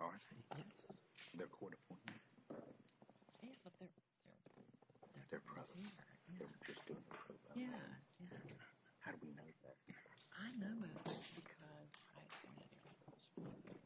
Are they? Yes. They're court-appointed? Yeah, but they're present. How do we know that? I know about that because I've been at your office for a long time.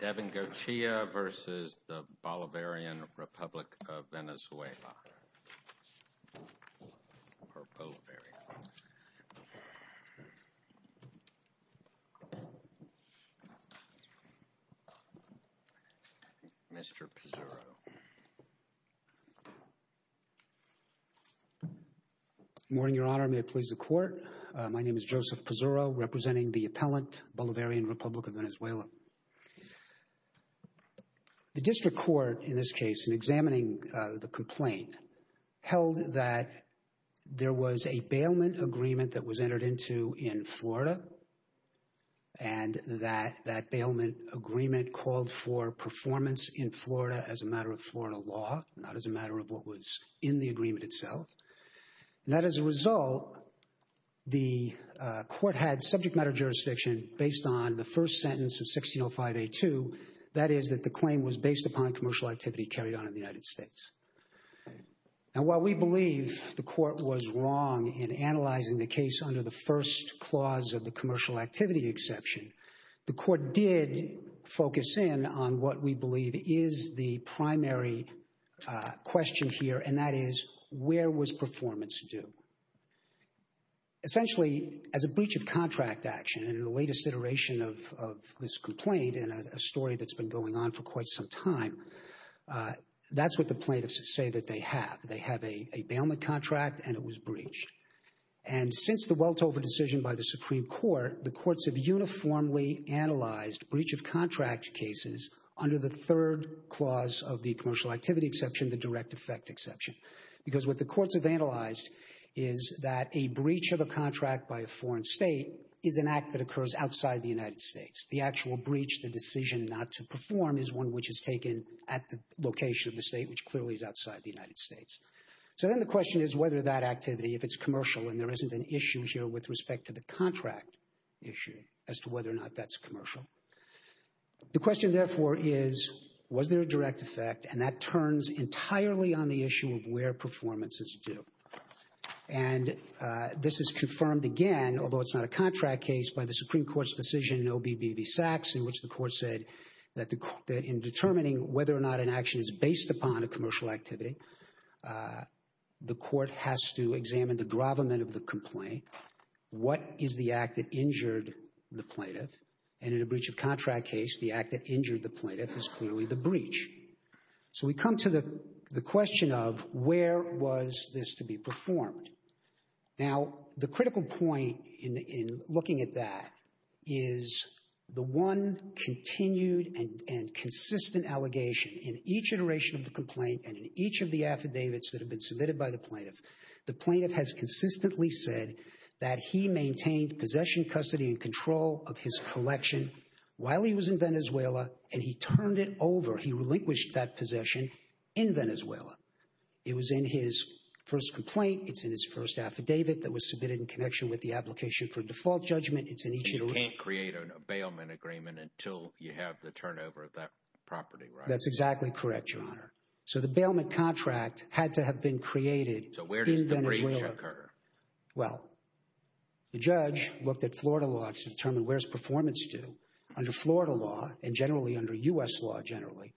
Devengoechea v. Bolivarian Republic of Venezuela. Mr. Pizzurro. Good morning, Your Honor. May it please the Court. My name is Joseph Pizzurro, representing the appellant Bolivarian Republic of Venezuela. The district court, in this case, in examining the complaint, held that there was a bailment agreement that was entered into in Florida, and that that bailment agreement called for performance in Florida as a matter of Florida law, not as a matter of what was in the agreement itself. And that, as a result, the court had subject matter jurisdiction based on the first sentence of 1605A2, that is, that the claim was based upon commercial activity carried on in the United States. And while we believe the court was wrong in analyzing the case under the first clause of the commercial activity exception, the court did focus in on what we believe is the primary question here, and that is, where was performance due? Essentially, as a breach of contract action, in the latest iteration of this complaint, in a story that's been going on for quite some time, that's what the plaintiffs say that they have. They have a bailment contract, and it was breached. And since the Weltover decision by the Supreme Court, the courts have uniformly analyzed breach of contract cases under the third clause of the commercial activity exception, the direct effect exception. Because what the courts have analyzed is that a breach of a contract by a foreign state is an act that occurs outside the United States. The actual breach, the decision not to perform, is one which is taken at the location of the state, which clearly is outside the United States. So then the question is whether that activity, if it's commercial, and there isn't an issue here with respect to the contract issue as to whether or not that's commercial. The question, therefore, is, was there a direct effect? And that turns entirely on the issue of where performance is due. And this is confirmed again, although it's not a contract case, by the Supreme Court's decision in OB-BB-Sax, in which the court said that in determining whether or not an action is based upon a commercial activity, the court has to examine the gravamen of the complaint. What is the act that injured the plaintiff? And in a breach of contract case, the act that injured the plaintiff is clearly the breach. So we come to the question of where was this to be performed? Now, the critical point in looking at that is the one continued and consistent allegation in each iteration of the complaint and in each of the affidavits that have been submitted by the plaintiff, the plaintiff has consistently said that he maintained possession, custody, and control of his collection while he was in Venezuela, and he turned it over. He relinquished that possession in Venezuela. It was in his first complaint. It's in his first affidavit that was submitted in connection with the application for default judgment. It's in each iteration. You can't create a bailment agreement until you have the turnover of that property, right? That's exactly correct, Your Honor. So the bailment contract had to have been created. So where does the breach occur? Well, the judge looked at Florida law to determine where's performance due. Under Florida law, and generally under U.S. law generally,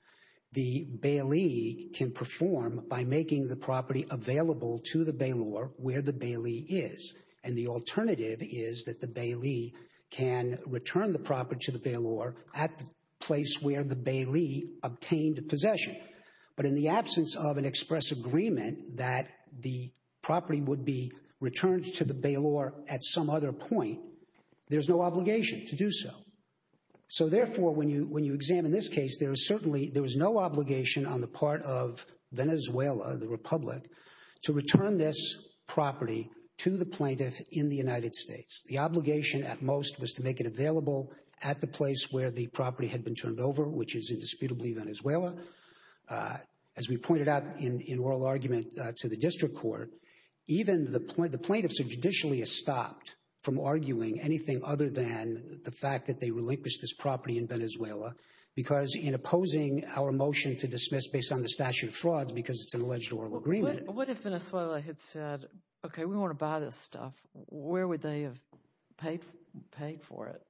the bailee can perform by making the property available to the bailor where the bailee is. And the alternative is that the bailee can return the property to the bailor at the place where the bailee obtained possession. But in the absence of an express agreement that the property would be returned to the bailor at some other point, there's no obligation to do so. So therefore, when you examine this case, there is certainly, there is no obligation on the part of Venezuela, the Republic, to return this property to the plaintiff in the United States. The obligation at most was to make it available at the place where the property had been turned over, which is indisputably Venezuela. As we pointed out in oral argument to the district court, even the plaintiffs are judicially stopped from arguing anything other than the fact that they relinquished this property in Venezuela because in opposing our motion to dismiss based on the statute of frauds because it's an alleged oral agreement. What if Venezuela had said, OK, we want to buy this stuff? Where would they have paid for it?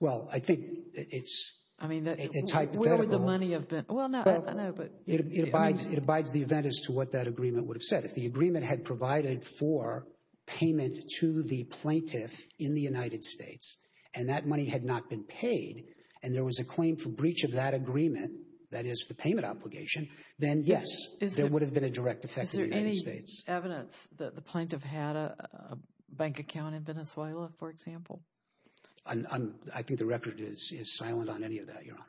Well, I think it's hypothetical. Where would the money have been? Well, I know, but... It abides the event as to what that agreement would have said. If the agreement had provided for payment to the plaintiff in the United States and that money had not been paid and there was a claim for breach of that agreement, that is the payment obligation, then, yes, there would have been a direct effect in the United States. Is there any evidence that the plaintiff had a bank account in Venezuela, for example? I think the record is silent on any of that, Your Honor.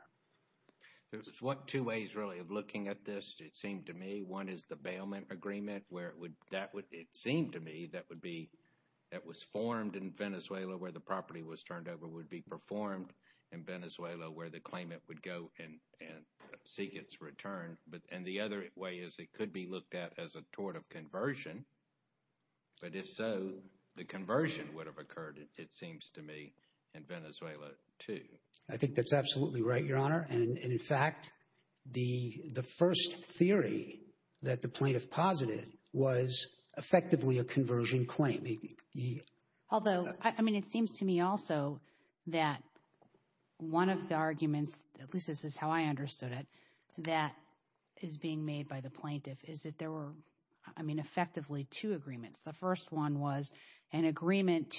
There's two ways, really, of looking at this, it seemed to me. One is the bailment agreement where it would... And the other way is it could be looked at as a tort of conversion. But if so, the conversion would have occurred, it seems to me, in Venezuela, too. I think that's absolutely right, Your Honor. And, in fact, the first theory that the plaintiff posited was effectively a conversion claim. Although, I mean, it seems to me also that one of the arguments, at least this is how I understood it, that is being made by the plaintiff is that there were, I mean, effectively two agreements. The first one was an agreement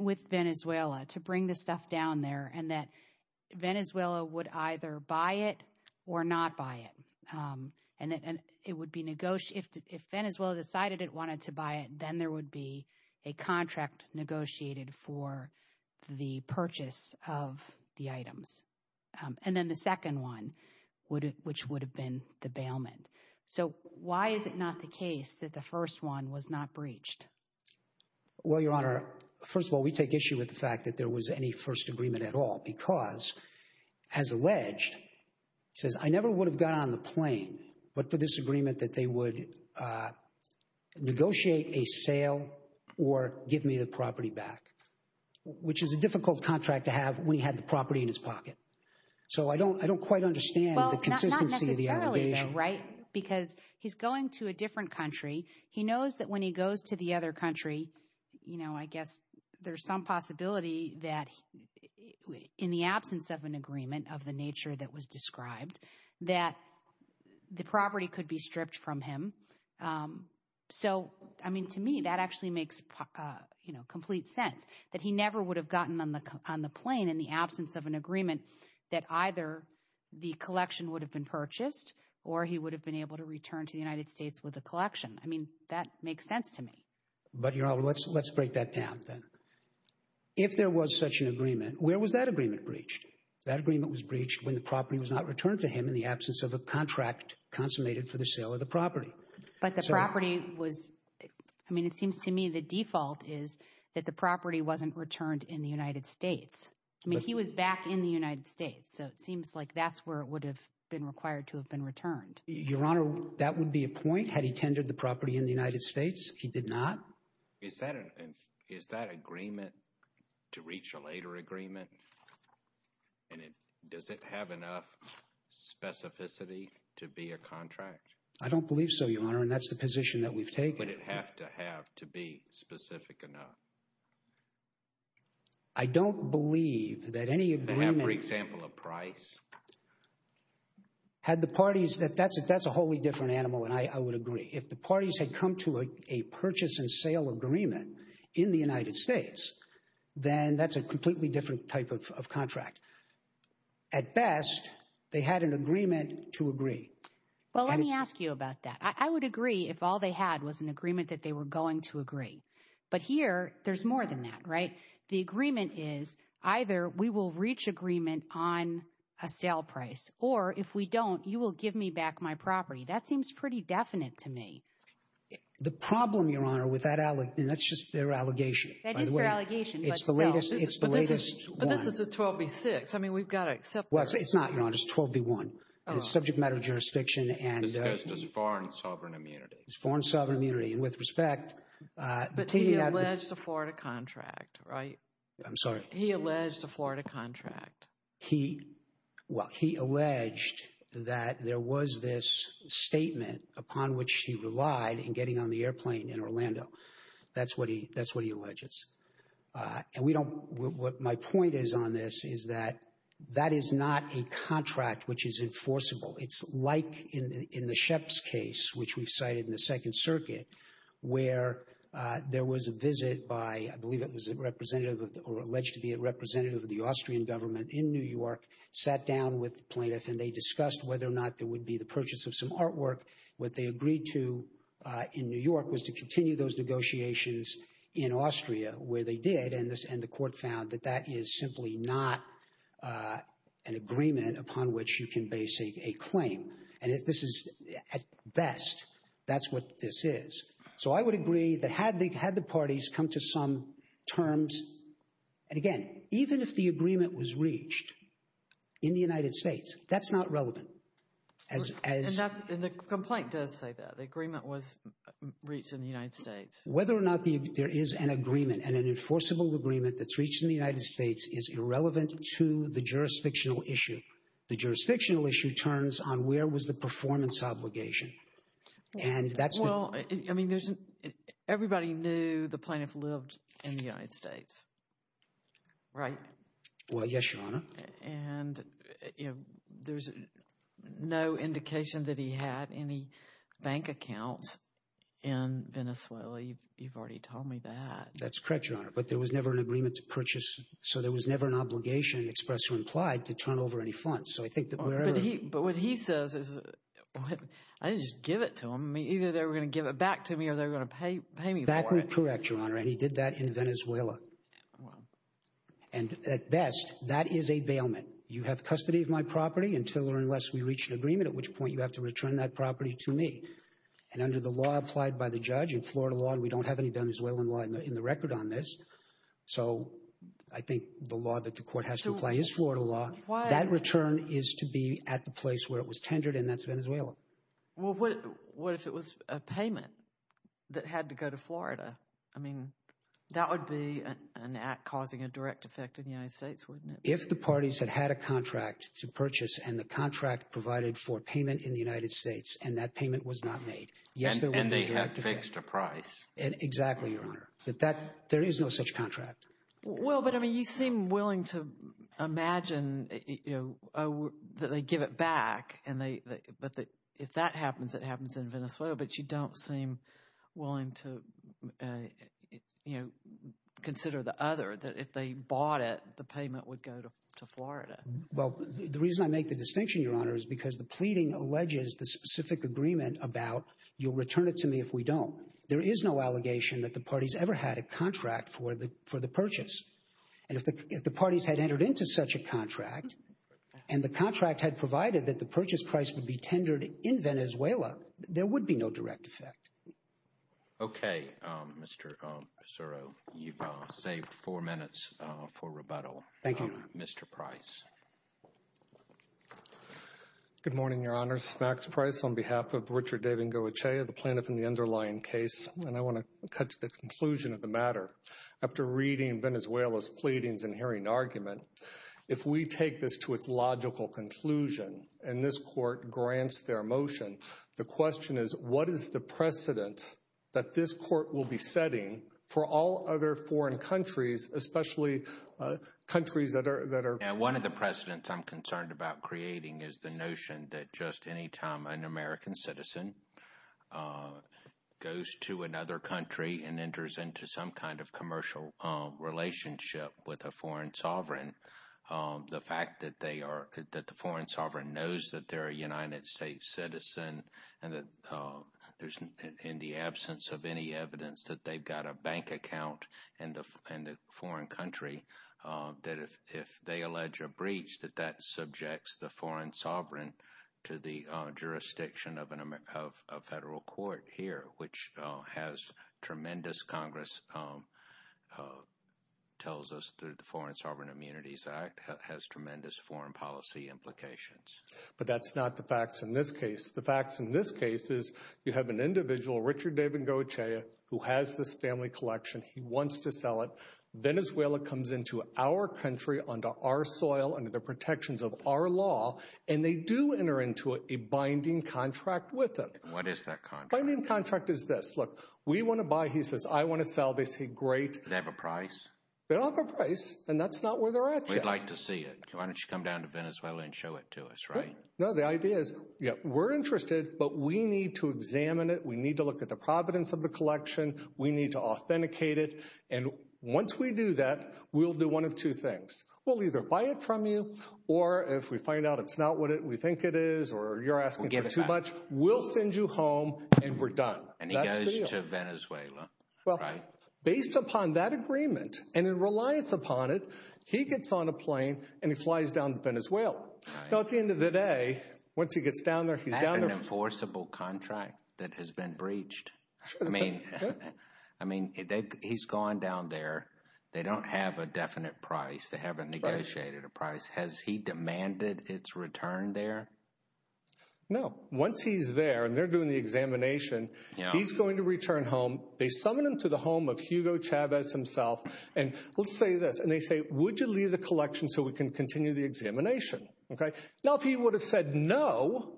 with Venezuela to bring the stuff down there and that Venezuela would either buy it or not buy it. And if Venezuela decided it wanted to buy it, then there would be a contract negotiated for the purchase of the items. And then the second one, which would have been the bailment. So why is it not the case that the first one was not breached? Well, Your Honor, first of all, we take issue with the fact that there was any first agreement at all because, as alleged, it says, I never would have got on the plane, but for this agreement that they would negotiate a sale or give me the property back, which is a difficult contract to have when he had the property in his pocket. So I don't quite understand the consistency of the allegation. Well, not necessarily, though, right, because he's going to a different country. He knows that when he goes to the other country, you know, I guess there's some possibility that in the absence of an agreement of the nature that was described, that the property could be stripped from him. So, I mean, to me, that actually makes complete sense that he never would have gotten on the plane in the absence of an agreement that either the collection would have been purchased or he would have been able to return to the United States with a collection. I mean, that makes sense to me. But, Your Honor, let's let's break that down then. If there was such an agreement, where was that agreement breached? That agreement was breached when the property was not returned to him in the absence of a contract consummated for the sale of the property. But the property was I mean, it seems to me the default is that the property wasn't returned in the United States. I mean, he was back in the United States. So it seems like that's where it would have been required to have been returned. Your Honor, that would be a point had he tended the property in the United States. He did not. Is that an is that agreement to reach a later agreement? And does it have enough specificity to be a contract? I don't believe so, Your Honor. And that's the position that we've taken. But it have to have to be specific enough. I don't believe that any agreement. For example, a price. Had the parties that that's that's a wholly different animal. And I would agree if the parties had come to a purchase and sale agreement in the United States, then that's a completely different type of contract. At best, they had an agreement to agree. Well, let me ask you about that. I would agree if all they had was an agreement that they were going to agree. But here there's more than that. Right. The agreement is either we will reach agreement on a sale price or if we don't, you will give me back my property. That seems pretty definite to me. The problem, Your Honor, with that, and that's just their allegation. That is their allegation. It's the latest. It's the latest. But this is a 12B6. I mean, we've got to accept. Well, it's not. It's 12B1. It's subject matter of jurisdiction and foreign sovereign immunity. It's foreign sovereign immunity. And with respect. But he alleged a Florida contract, right? I'm sorry. He alleged a Florida contract. He, well, he alleged that there was this statement upon which he relied in getting on the airplane in Orlando. That's what he, that's what he alleges. And we don't, what my point is on this is that that is not a contract which is enforceable. It's like in the Sheps case, which we've cited in the Second Circuit, where there was a visit by, I believe it was a representative or alleged to be a representative of the Austrian government in New York, sat down with the plaintiff, and they discussed whether or not there would be the purchase of some artwork. What they agreed to in New York was to continue those negotiations in Austria, where they did. And the court found that that is simply not an agreement upon which you can base a claim. And this is, at best, that's what this is. So I would agree that had the parties come to some terms, and again, even if the agreement was reached in the United States, that's not relevant. And the complaint does say that. The agreement was reached in the United States. Whether or not there is an agreement and an enforceable agreement that's reached in the United States is irrelevant to the jurisdictional issue. The jurisdictional issue turns on where was the performance obligation. And that's the... Well, I mean, there's, everybody knew the plaintiff lived in the United States, right? Well, yes, Your Honor. And, you know, there's no indication that he had any bank accounts in Venezuela. You've already told me that. That's correct, Your Honor. But there was never an agreement to purchase. So there was never an obligation expressed or implied to turn over any funds. So I think that wherever... But what he says is, I didn't just give it to him. Either they were going to give it back to me or they were going to pay me for it. That is correct, Your Honor, and he did that in Venezuela. And at best, that is a bailment. You have custody of my property until or unless we reach an agreement, at which point you have to return that property to me. And under the law applied by the judge, in Florida law, we don't have any Venezuelan law in the record on this. So I think the law that the court has to apply is Florida law. That return is to be at the place where it was tendered, and that's Venezuela. Well, what if it was a payment that had to go to Florida? I mean, that would be an act causing a direct effect in the United States, wouldn't it? If the parties had had a contract to purchase and the contract provided for payment in the United States and that payment was not made, yes, there would be a direct effect. And they had fixed a price. Exactly, Your Honor. There is no such contract. Well, but, I mean, you seem willing to imagine that they give it back, but if that happens, it happens in Venezuela, but you don't seem willing to, you know, consider the other, that if they bought it, the payment would go to Florida. Well, the reason I make the distinction, Your Honor, is because the pleading alleges the specific agreement about you'll return it to me if we don't. There is no allegation that the parties ever had a contract for the purchase. And if the parties had entered into such a contract and the contract had provided that the purchase price would be tendered in Venezuela, there would be no direct effect. Okay, Mr. Pissarro. You've saved four minutes for rebuttal. Thank you. Mr. Price. Good morning, Your Honors. Max Price on behalf of Richard David Ngoetchea, the plaintiff in the underlying case, and I want to cut to the conclusion of the matter. After reading Venezuela's pleadings and hearing argument, if we take this to its logical conclusion and this court grants their motion, the question is, what is the precedent that this court will be setting for all other foreign countries, especially countries that are One of the precedents I'm concerned about creating is the notion that just any time an American citizen goes to another country and enters into some kind of commercial relationship with a foreign sovereign, the fact that the foreign sovereign knows that they're a United States citizen and that in the absence of any evidence that they've got a bank account in the foreign country, that if they allege a breach, that that subjects the foreign sovereign to the jurisdiction of a federal court here, which has tremendous, Congress tells us through the Foreign Sovereign Immunities Act, has tremendous foreign policy implications. But that's not the facts in this case. The facts in this case is you have an individual, Richard David Ngoetchea, who has this family collection. He wants to sell it. Venezuela comes into our country under our soil, under the protections of our law, and they do enter into a binding contract with them. What is that contract? The binding contract is this. Look, we want to buy. He says, I want to sell. They say, great. Do they have a price? They don't have a price, and that's not where they're at yet. We'd like to see it. Why don't you come down to Venezuela and show it to us, right? No, the idea is we're interested, but we need to examine it. We need to look at the providence of the collection. We need to authenticate it, and once we do that, we'll do one of two things. We'll either buy it from you, or if we find out it's not what we think it is or you're asking for too much, we'll send you home and we're done. And he goes to Venezuela, right? Based upon that agreement and in reliance upon it, he gets on a plane and he flies down to Venezuela. Now, at the end of the day, once he gets down there, he's down there. Is that an enforceable contract that has been breached? I mean, he's gone down there. They don't have a definite price. They haven't negotiated a price. Has he demanded its return there? No. Once he's there and they're doing the examination, he's going to return home. They summon him to the home of Hugo Chavez himself, and let's say this. And they say, would you leave the collection so we can continue the examination? Now, if he would have said no,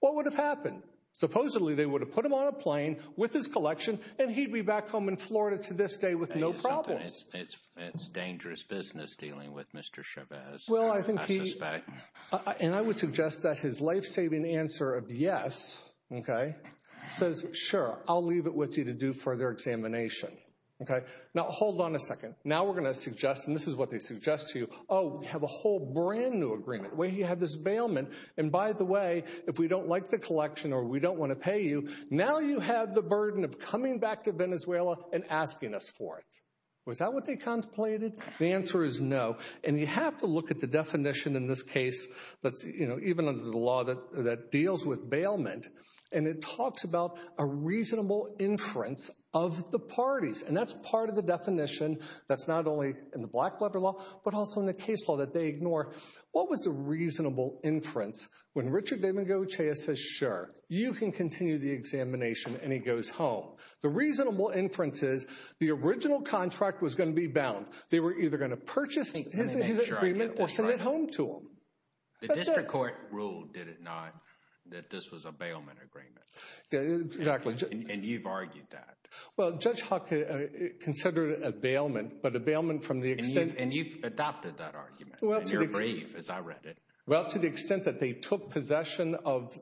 what would have happened? Supposedly, they would have put him on a plane with his collection and he'd be back home in Florida to this day with no problems. It's dangerous business dealing with Mr. Chavez. I suspect. And I would suggest that his lifesaving answer of yes says, sure, I'll leave it with you to do further examination. Now, hold on a second. Now we're going to suggest, and this is what they suggest to you, oh, we have a whole brand new agreement. We have this bailment. And by the way, if we don't like the collection or we don't want to pay you, now you have the burden of coming back to Venezuela and asking us for it. Was that what they contemplated? The answer is no. And you have to look at the definition in this case that's, you know, even under the law that deals with bailment. And it talks about a reasonable inference of the parties. And that's part of the definition that's not only in the black labor law, but also in the case law that they ignore. What was the reasonable inference? When Richard Damon Gocha says, sure, you can continue the examination and he goes home. The reasonable inference is the original contract was going to be bound. They were either going to purchase his agreement or send it home to him. The district court ruled, did it not, that this was a bailment agreement? Exactly. And you've argued that. Well, Judge Hawkins considered it a bailment, but a bailment from the extent. And you've adopted that argument. And you're brave, as I read it. Well, to the extent that they took possession of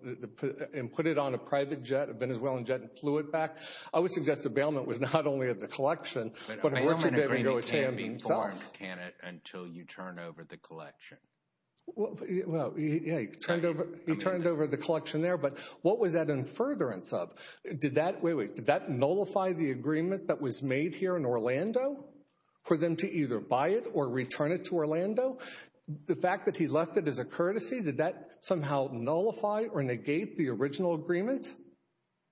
and put it on a private jet, a Venezuelan jet, and flew it back. I would suggest a bailment was not only of the collection, but of Richard Damon Gocha himself. But a bailment agreement can't be formed, can it, until you turn over the collection. Well, yeah, he turned over the collection there. But what was that in furtherance of? Did that nullify the agreement that was made here in Orlando for them to either buy it or return it to Orlando? The fact that he left it as a courtesy, did that somehow nullify or negate the original agreement?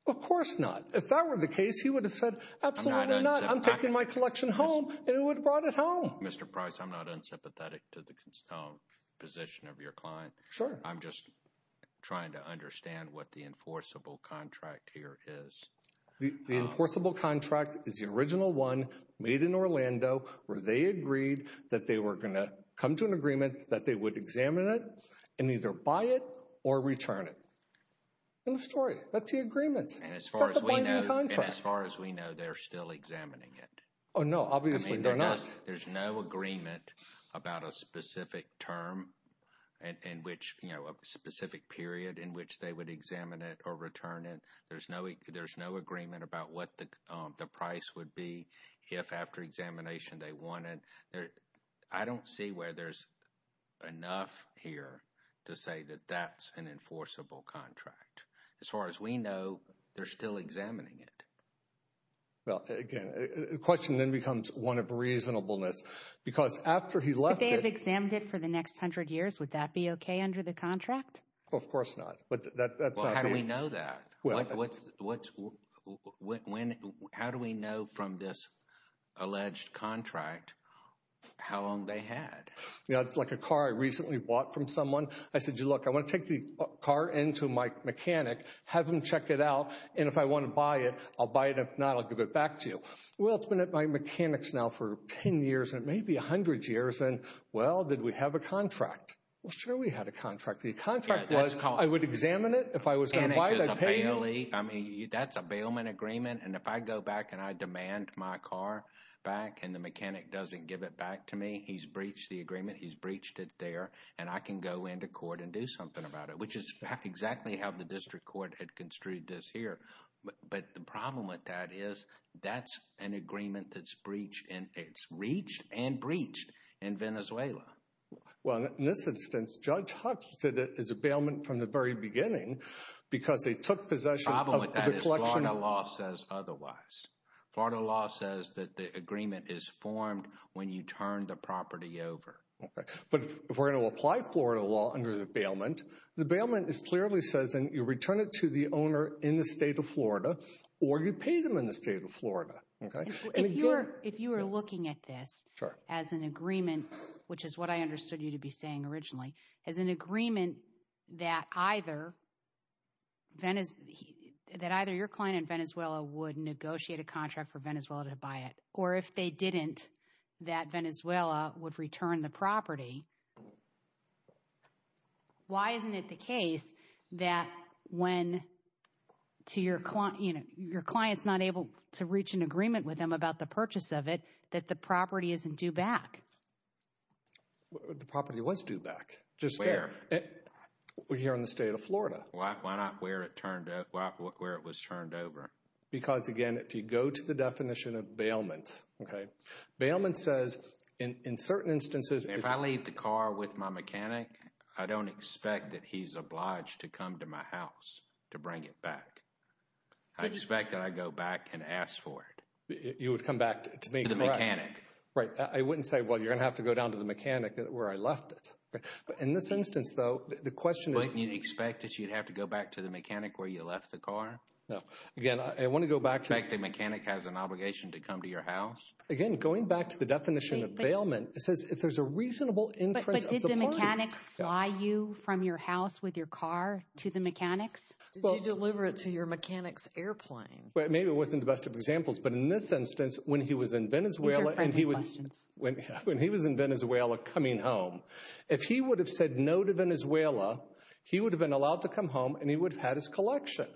Of course not. If that were the case, he would have said, absolutely not. I'm taking my collection home. And he would have brought it home. Mr. Price, I'm not unsympathetic to the position of your client. Sure. I'm just trying to understand what the enforceable contract here is. The enforceable contract is the original one made in Orlando where they agreed that they were going to come to an agreement that they would examine it and either buy it or return it. End of story. That's the agreement. And as far as we know, they're still examining it. Oh, no, obviously they're not. There's no agreement about a specific term in which, you know, a specific period in which they would examine it or return it. There's no agreement about what the price would be if after examination they want it. I don't see where there's enough here to say that that's an enforceable contract. As far as we know, they're still examining it. Well, again, the question then becomes one of reasonableness. Because after he left, they have examined it for the next hundred years. Would that be OK under the contract? Of course not. But that's how we know that. What's what? When? How do we know from this alleged contract how long they had? Yeah, it's like a car I recently bought from someone. I said, you look, I want to take the car into my mechanic, have him check it out. And if I want to buy it, I'll buy it. If not, I'll give it back to you. Well, it's been at my mechanics now for 10 years and maybe 100 years. And, well, did we have a contract? Well, sure, we had a contract. The contract was I would examine it if I was going to buy it. I mean, that's a bailment agreement. And if I go back and I demand my car back and the mechanic doesn't give it back to me, he's breached the agreement. He's breached it there. And I can go into court and do something about it, which is exactly how the district court had construed this here. But the problem with that is that's an agreement that's breached. And it's reached and breached in Venezuela. Well, in this instance, Judge Hutch said it is a bailment from the very beginning because they took possession of the collection. The problem with that is Florida law says otherwise. Florida law says that the agreement is formed when you turn the property over. But if we're going to apply Florida law under the bailment, the bailment clearly says you return it to the owner in the state of Florida or you pay them in the state of Florida. If you are looking at this as an agreement, which is what I understood you to be saying originally, as an agreement that either your client in Venezuela would negotiate a contract for Venezuela to buy it. Or if they didn't, that Venezuela would return the property. Why isn't it the case that when your client's not able to reach an agreement with them about the purchase of it, that the property isn't due back? The property was due back. Where? Here in the state of Florida. Why not where it was turned over? Because, again, if you go to the definition of bailment. Bailment says in certain instances. If I leave the car with my mechanic, I don't expect that he's obliged to come to my house to bring it back. I expect that I go back and ask for it. You would come back to me. The mechanic. Right. I wouldn't say, well, you're going to have to go down to the mechanic where I left it. But in this instance, though, the question is. You'd expect that you'd have to go back to the mechanic where you left the car. No. Again, I want to go back. The mechanic has an obligation to come to your house. Again, going back to the definition of bailment, it says if there's a reasonable. But did the mechanic fly you from your house with your car to the mechanics? Did you deliver it to your mechanic's airplane? Maybe it wasn't the best of examples. But in this instance, when he was in Venezuela and he was when he was in Venezuela coming home, if he would have said no to Venezuela, he would have been allowed to come home and he would have had his collection.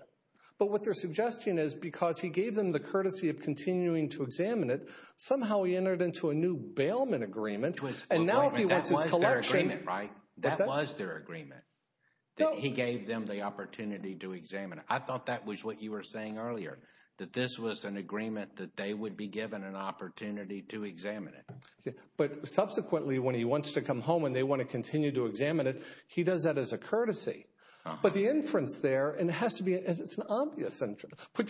But what their suggestion is, because he gave them the courtesy of continuing to examine it, somehow he entered into a new bailment agreement. And now he wants his collection. Right. That was their agreement. He gave them the opportunity to examine. I thought that was what you were saying earlier, that this was an agreement that they would be given an opportunity to examine it. But subsequently, when he wants to come home and they want to continue to examine it, he does that as a courtesy. But the inference there and it has to be it's an obvious. And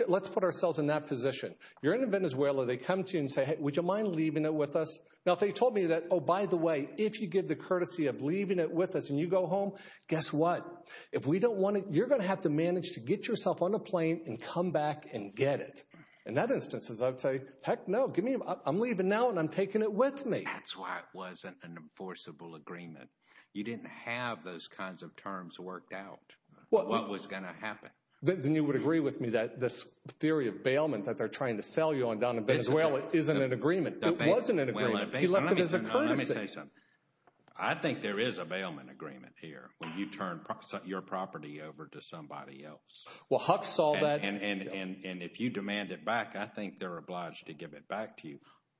let's put ourselves in that position. You're in Venezuela. They come to you and say, hey, would you mind leaving it with us? Now, they told me that. Oh, by the way, if you give the courtesy of leaving it with us and you go home, guess what? If we don't want it, you're going to have to manage to get yourself on a plane and come back and get it. In that instance, I would say, heck no. Give me I'm leaving now and I'm taking it with me. That's why it wasn't an enforceable agreement. You didn't have those kinds of terms worked out. What was going to happen? Then you would agree with me that this theory of bailment that they're trying to sell you on down in Venezuela isn't an agreement. It wasn't an agreement. He left it as a courtesy. I think there is a bailment agreement here when you turn your property over to somebody else. Well, Huck saw that. And if you demand it back, I think they're obliged to give it back to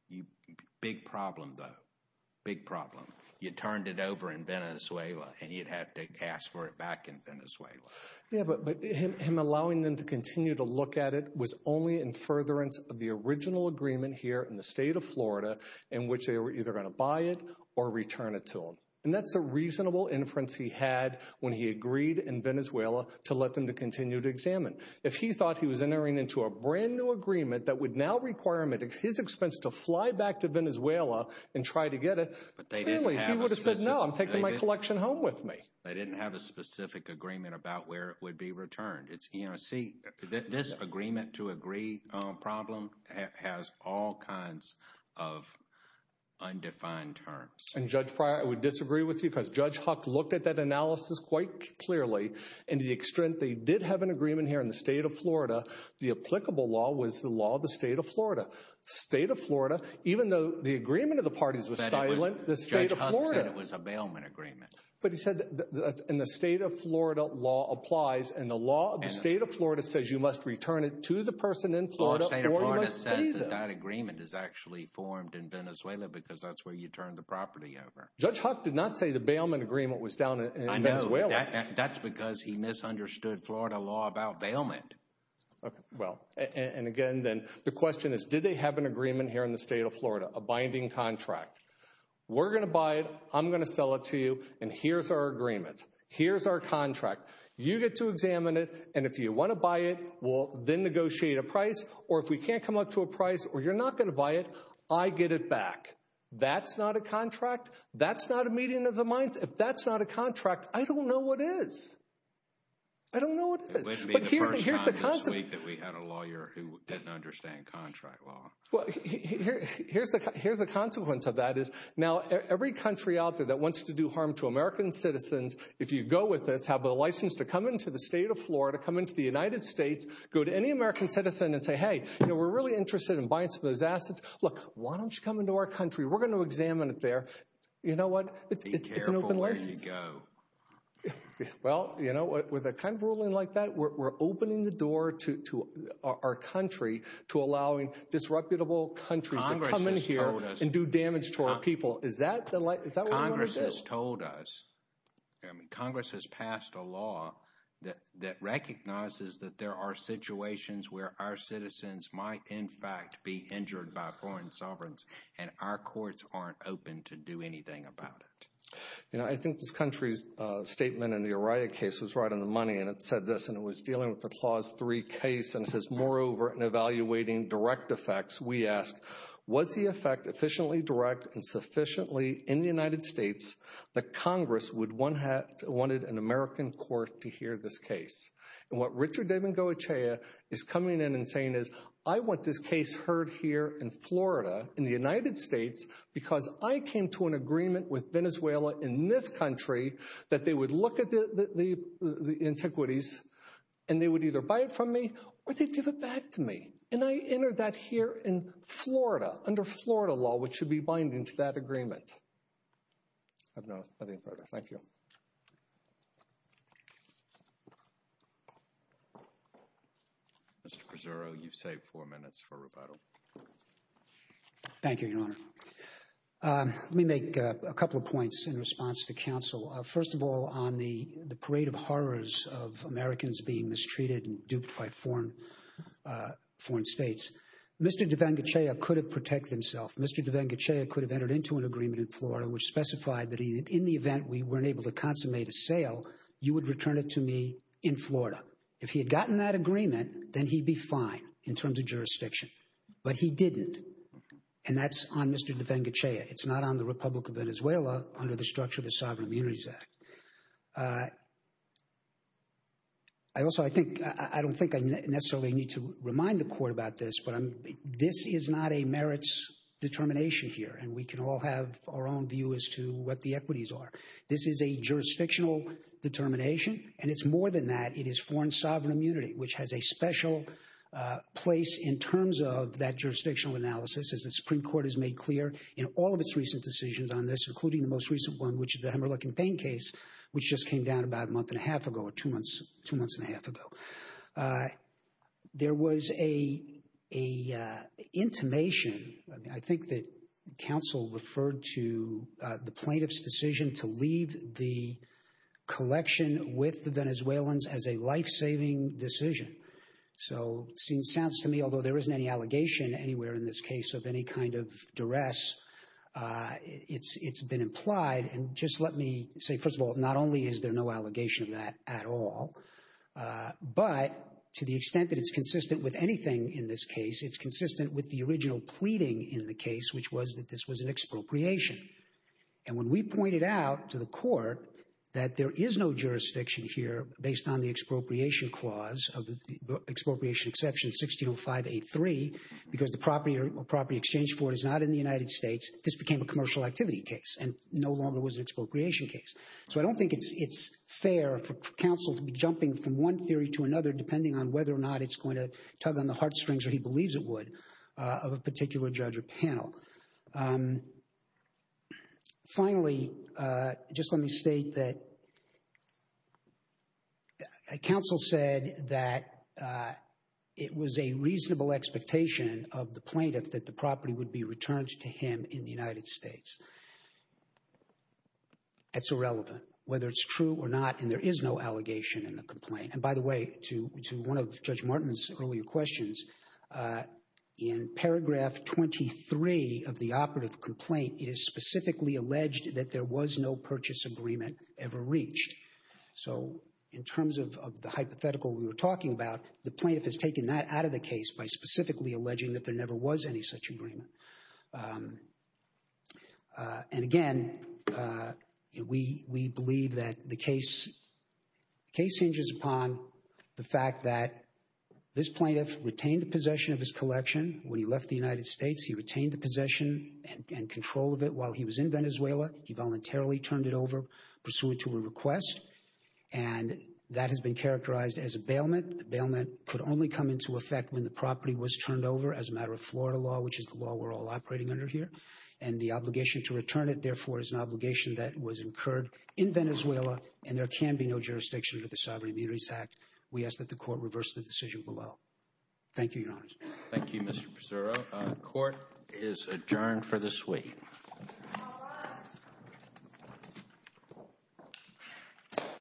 you. Big problem, though. Big problem. You turned it over in Venezuela and you'd have to ask for it back in Venezuela. Yeah, but him allowing them to continue to look at it was only in furtherance of the original agreement here in the state of Florida in which they were either going to buy it or return it to him. And that's a reasonable inference he had when he agreed in Venezuela to let them to continue to examine. If he thought he was entering into a brand new agreement that would now require him at his expense to fly back to Venezuela and try to get it. Clearly, he would have said, no, I'm taking my collection home with me. They didn't have a specific agreement about where it would be returned. It's, you know, see, this agreement to agree problem has all kinds of undefined terms. And, Judge Pryor, I would disagree with you because Judge Huck looked at that analysis quite clearly. And to the extent they did have an agreement here in the state of Florida, the applicable law was the law of the state of Florida. State of Florida, even though the agreement of the parties was silent, the state of Florida. Judge Huck said it was a bailment agreement. But he said in the state of Florida law applies and the law of the state of Florida says you must return it to the person in Florida. That agreement is actually formed in Venezuela because that's where you turn the property over. Judge Huck did not say the bailment agreement was down. I know that's because he misunderstood Florida law about bailment. Well, and again, then the question is, did they have an agreement here in the state of Florida, a binding contract? We're going to buy it. I'm going to sell it to you. And here's our agreement. Here's our contract. You get to examine it. And if you want to buy it, we'll then negotiate a price. Or if we can't come up to a price or you're not going to buy it, I get it back. That's not a contract. That's not a meeting of the minds. If that's not a contract, I don't know what is. I don't know what it is. But here's the here's the concept that we had a lawyer who didn't understand contract law. Well, here's the here's the consequence of that is now every country out there that wants to do harm to American citizens. If you go with this, have a license to come into the state of Florida, come into the United States, go to any American citizen and say, hey, you know, we're really interested in buying some of those assets. Look, why don't you come into our country? We're going to examine it there. You know what? It's an open license. Well, you know, with a kind of ruling like that, we're opening the door to our country to allowing disreputable countries to come in here and do damage to our people. Is that the Congress has told us Congress has passed a law that that recognizes that there are situations where our citizens might, in fact, be injured by foreign sovereigns. And our courts aren't open to do anything about it. You know, I think this country's statement in the Araya case was right on the money. And it said this and it was dealing with the clause three case. And it says, moreover, in evaluating direct effects, we ask, was the effect efficiently direct and sufficiently in the United States? The Congress would one had wanted an American court to hear this case. And what Richard David Goethe is coming in and saying is I want this case heard here in Florida, in the United States, because I came to an agreement with Venezuela in this country that they would look at the antiquities and they would either buy it from me or they'd give it back to me. And I entered that here in Florida under Florida law, which should be binding to that agreement. I have no further. Thank you. Mr. Pazurro, you've saved four minutes for rebuttal. Thank you, Your Honor. Let me make a couple of points in response to counsel. First of all, on the parade of horrors of Americans being mistreated and duped by foreign foreign states. Mr. Devenger could have protect himself. Mr. Devenger could have entered into an agreement in Florida which specified that in the event we weren't able to consummate a sale, you would return it to me in Florida. If he had gotten that agreement, then he'd be fine in terms of jurisdiction. But he didn't. And that's on Mr. Devenger chair. It's not on the Republic of Venezuela under the structure of the Sovereign Immunities Act. I also I think I don't think I necessarily need to remind the court about this, but this is not a merits determination here. And we can all have our own view as to what the equities are. This is a jurisdictional determination. And it's more than that. It is foreign sovereign immunity, which has a special place in terms of that jurisdictional analysis. As the Supreme Court has made clear in all of its recent decisions on this, including the most recent one, which is the Hemmerle campaign case, which just came down about a month and a half ago or two months, two months and a half ago. There was a a intimation. I think that counsel referred to the plaintiff's decision to leave the collection with the Venezuelans as a lifesaving decision. So it seems sounds to me, although there isn't any allegation anywhere in this case of any kind of duress, it's it's been implied. And just let me say, first of all, not only is there no allegation that at all, but to the extent that it's consistent with anything in this case, it's consistent with the original pleading in the case, which was that this was an expropriation. And when we pointed out to the court that there is no jurisdiction here based on the expropriation clause of the expropriation exception 160583, because the property or property exchange for it is not in the United States, this became a commercial activity case and no longer was an expropriation case. So I don't think it's it's fair for counsel to be jumping from one theory to another, depending on whether or not it's going to tug on the heartstrings or he believes it would of a particular judge or panel. Finally, just let me state that counsel said that it was a reasonable expectation of the plaintiff that the property would be returned to him in the United States. It's irrelevant whether it's true or not, and there is no allegation in the complaint. And by the way, to one of Judge Martin's earlier questions, in paragraph 23 of the operative complaint, it is specifically alleged that there was no purchase agreement ever reached. So in terms of the hypothetical we were talking about, the plaintiff has taken that out of the case by specifically alleging that there never was any such agreement. And again, we believe that the case hinges upon the fact that this plaintiff retained the possession of his collection. When he left the United States, he retained the possession and control of it while he was in Venezuela. He voluntarily turned it over pursuant to a request, and that has been characterized as a bailment. The bailment could only come into effect when the property was turned over as a matter of Florida law, which is the law we're all operating under here. And the obligation to return it, therefore, is an obligation that was incurred in Venezuela, and there can be no jurisdiction under the Sovereign Immunities Act. We ask that the court reverse the decision below. Thank you, Your Honor. Thank you, Mr. Pizzurro. Court is adjourned for this week.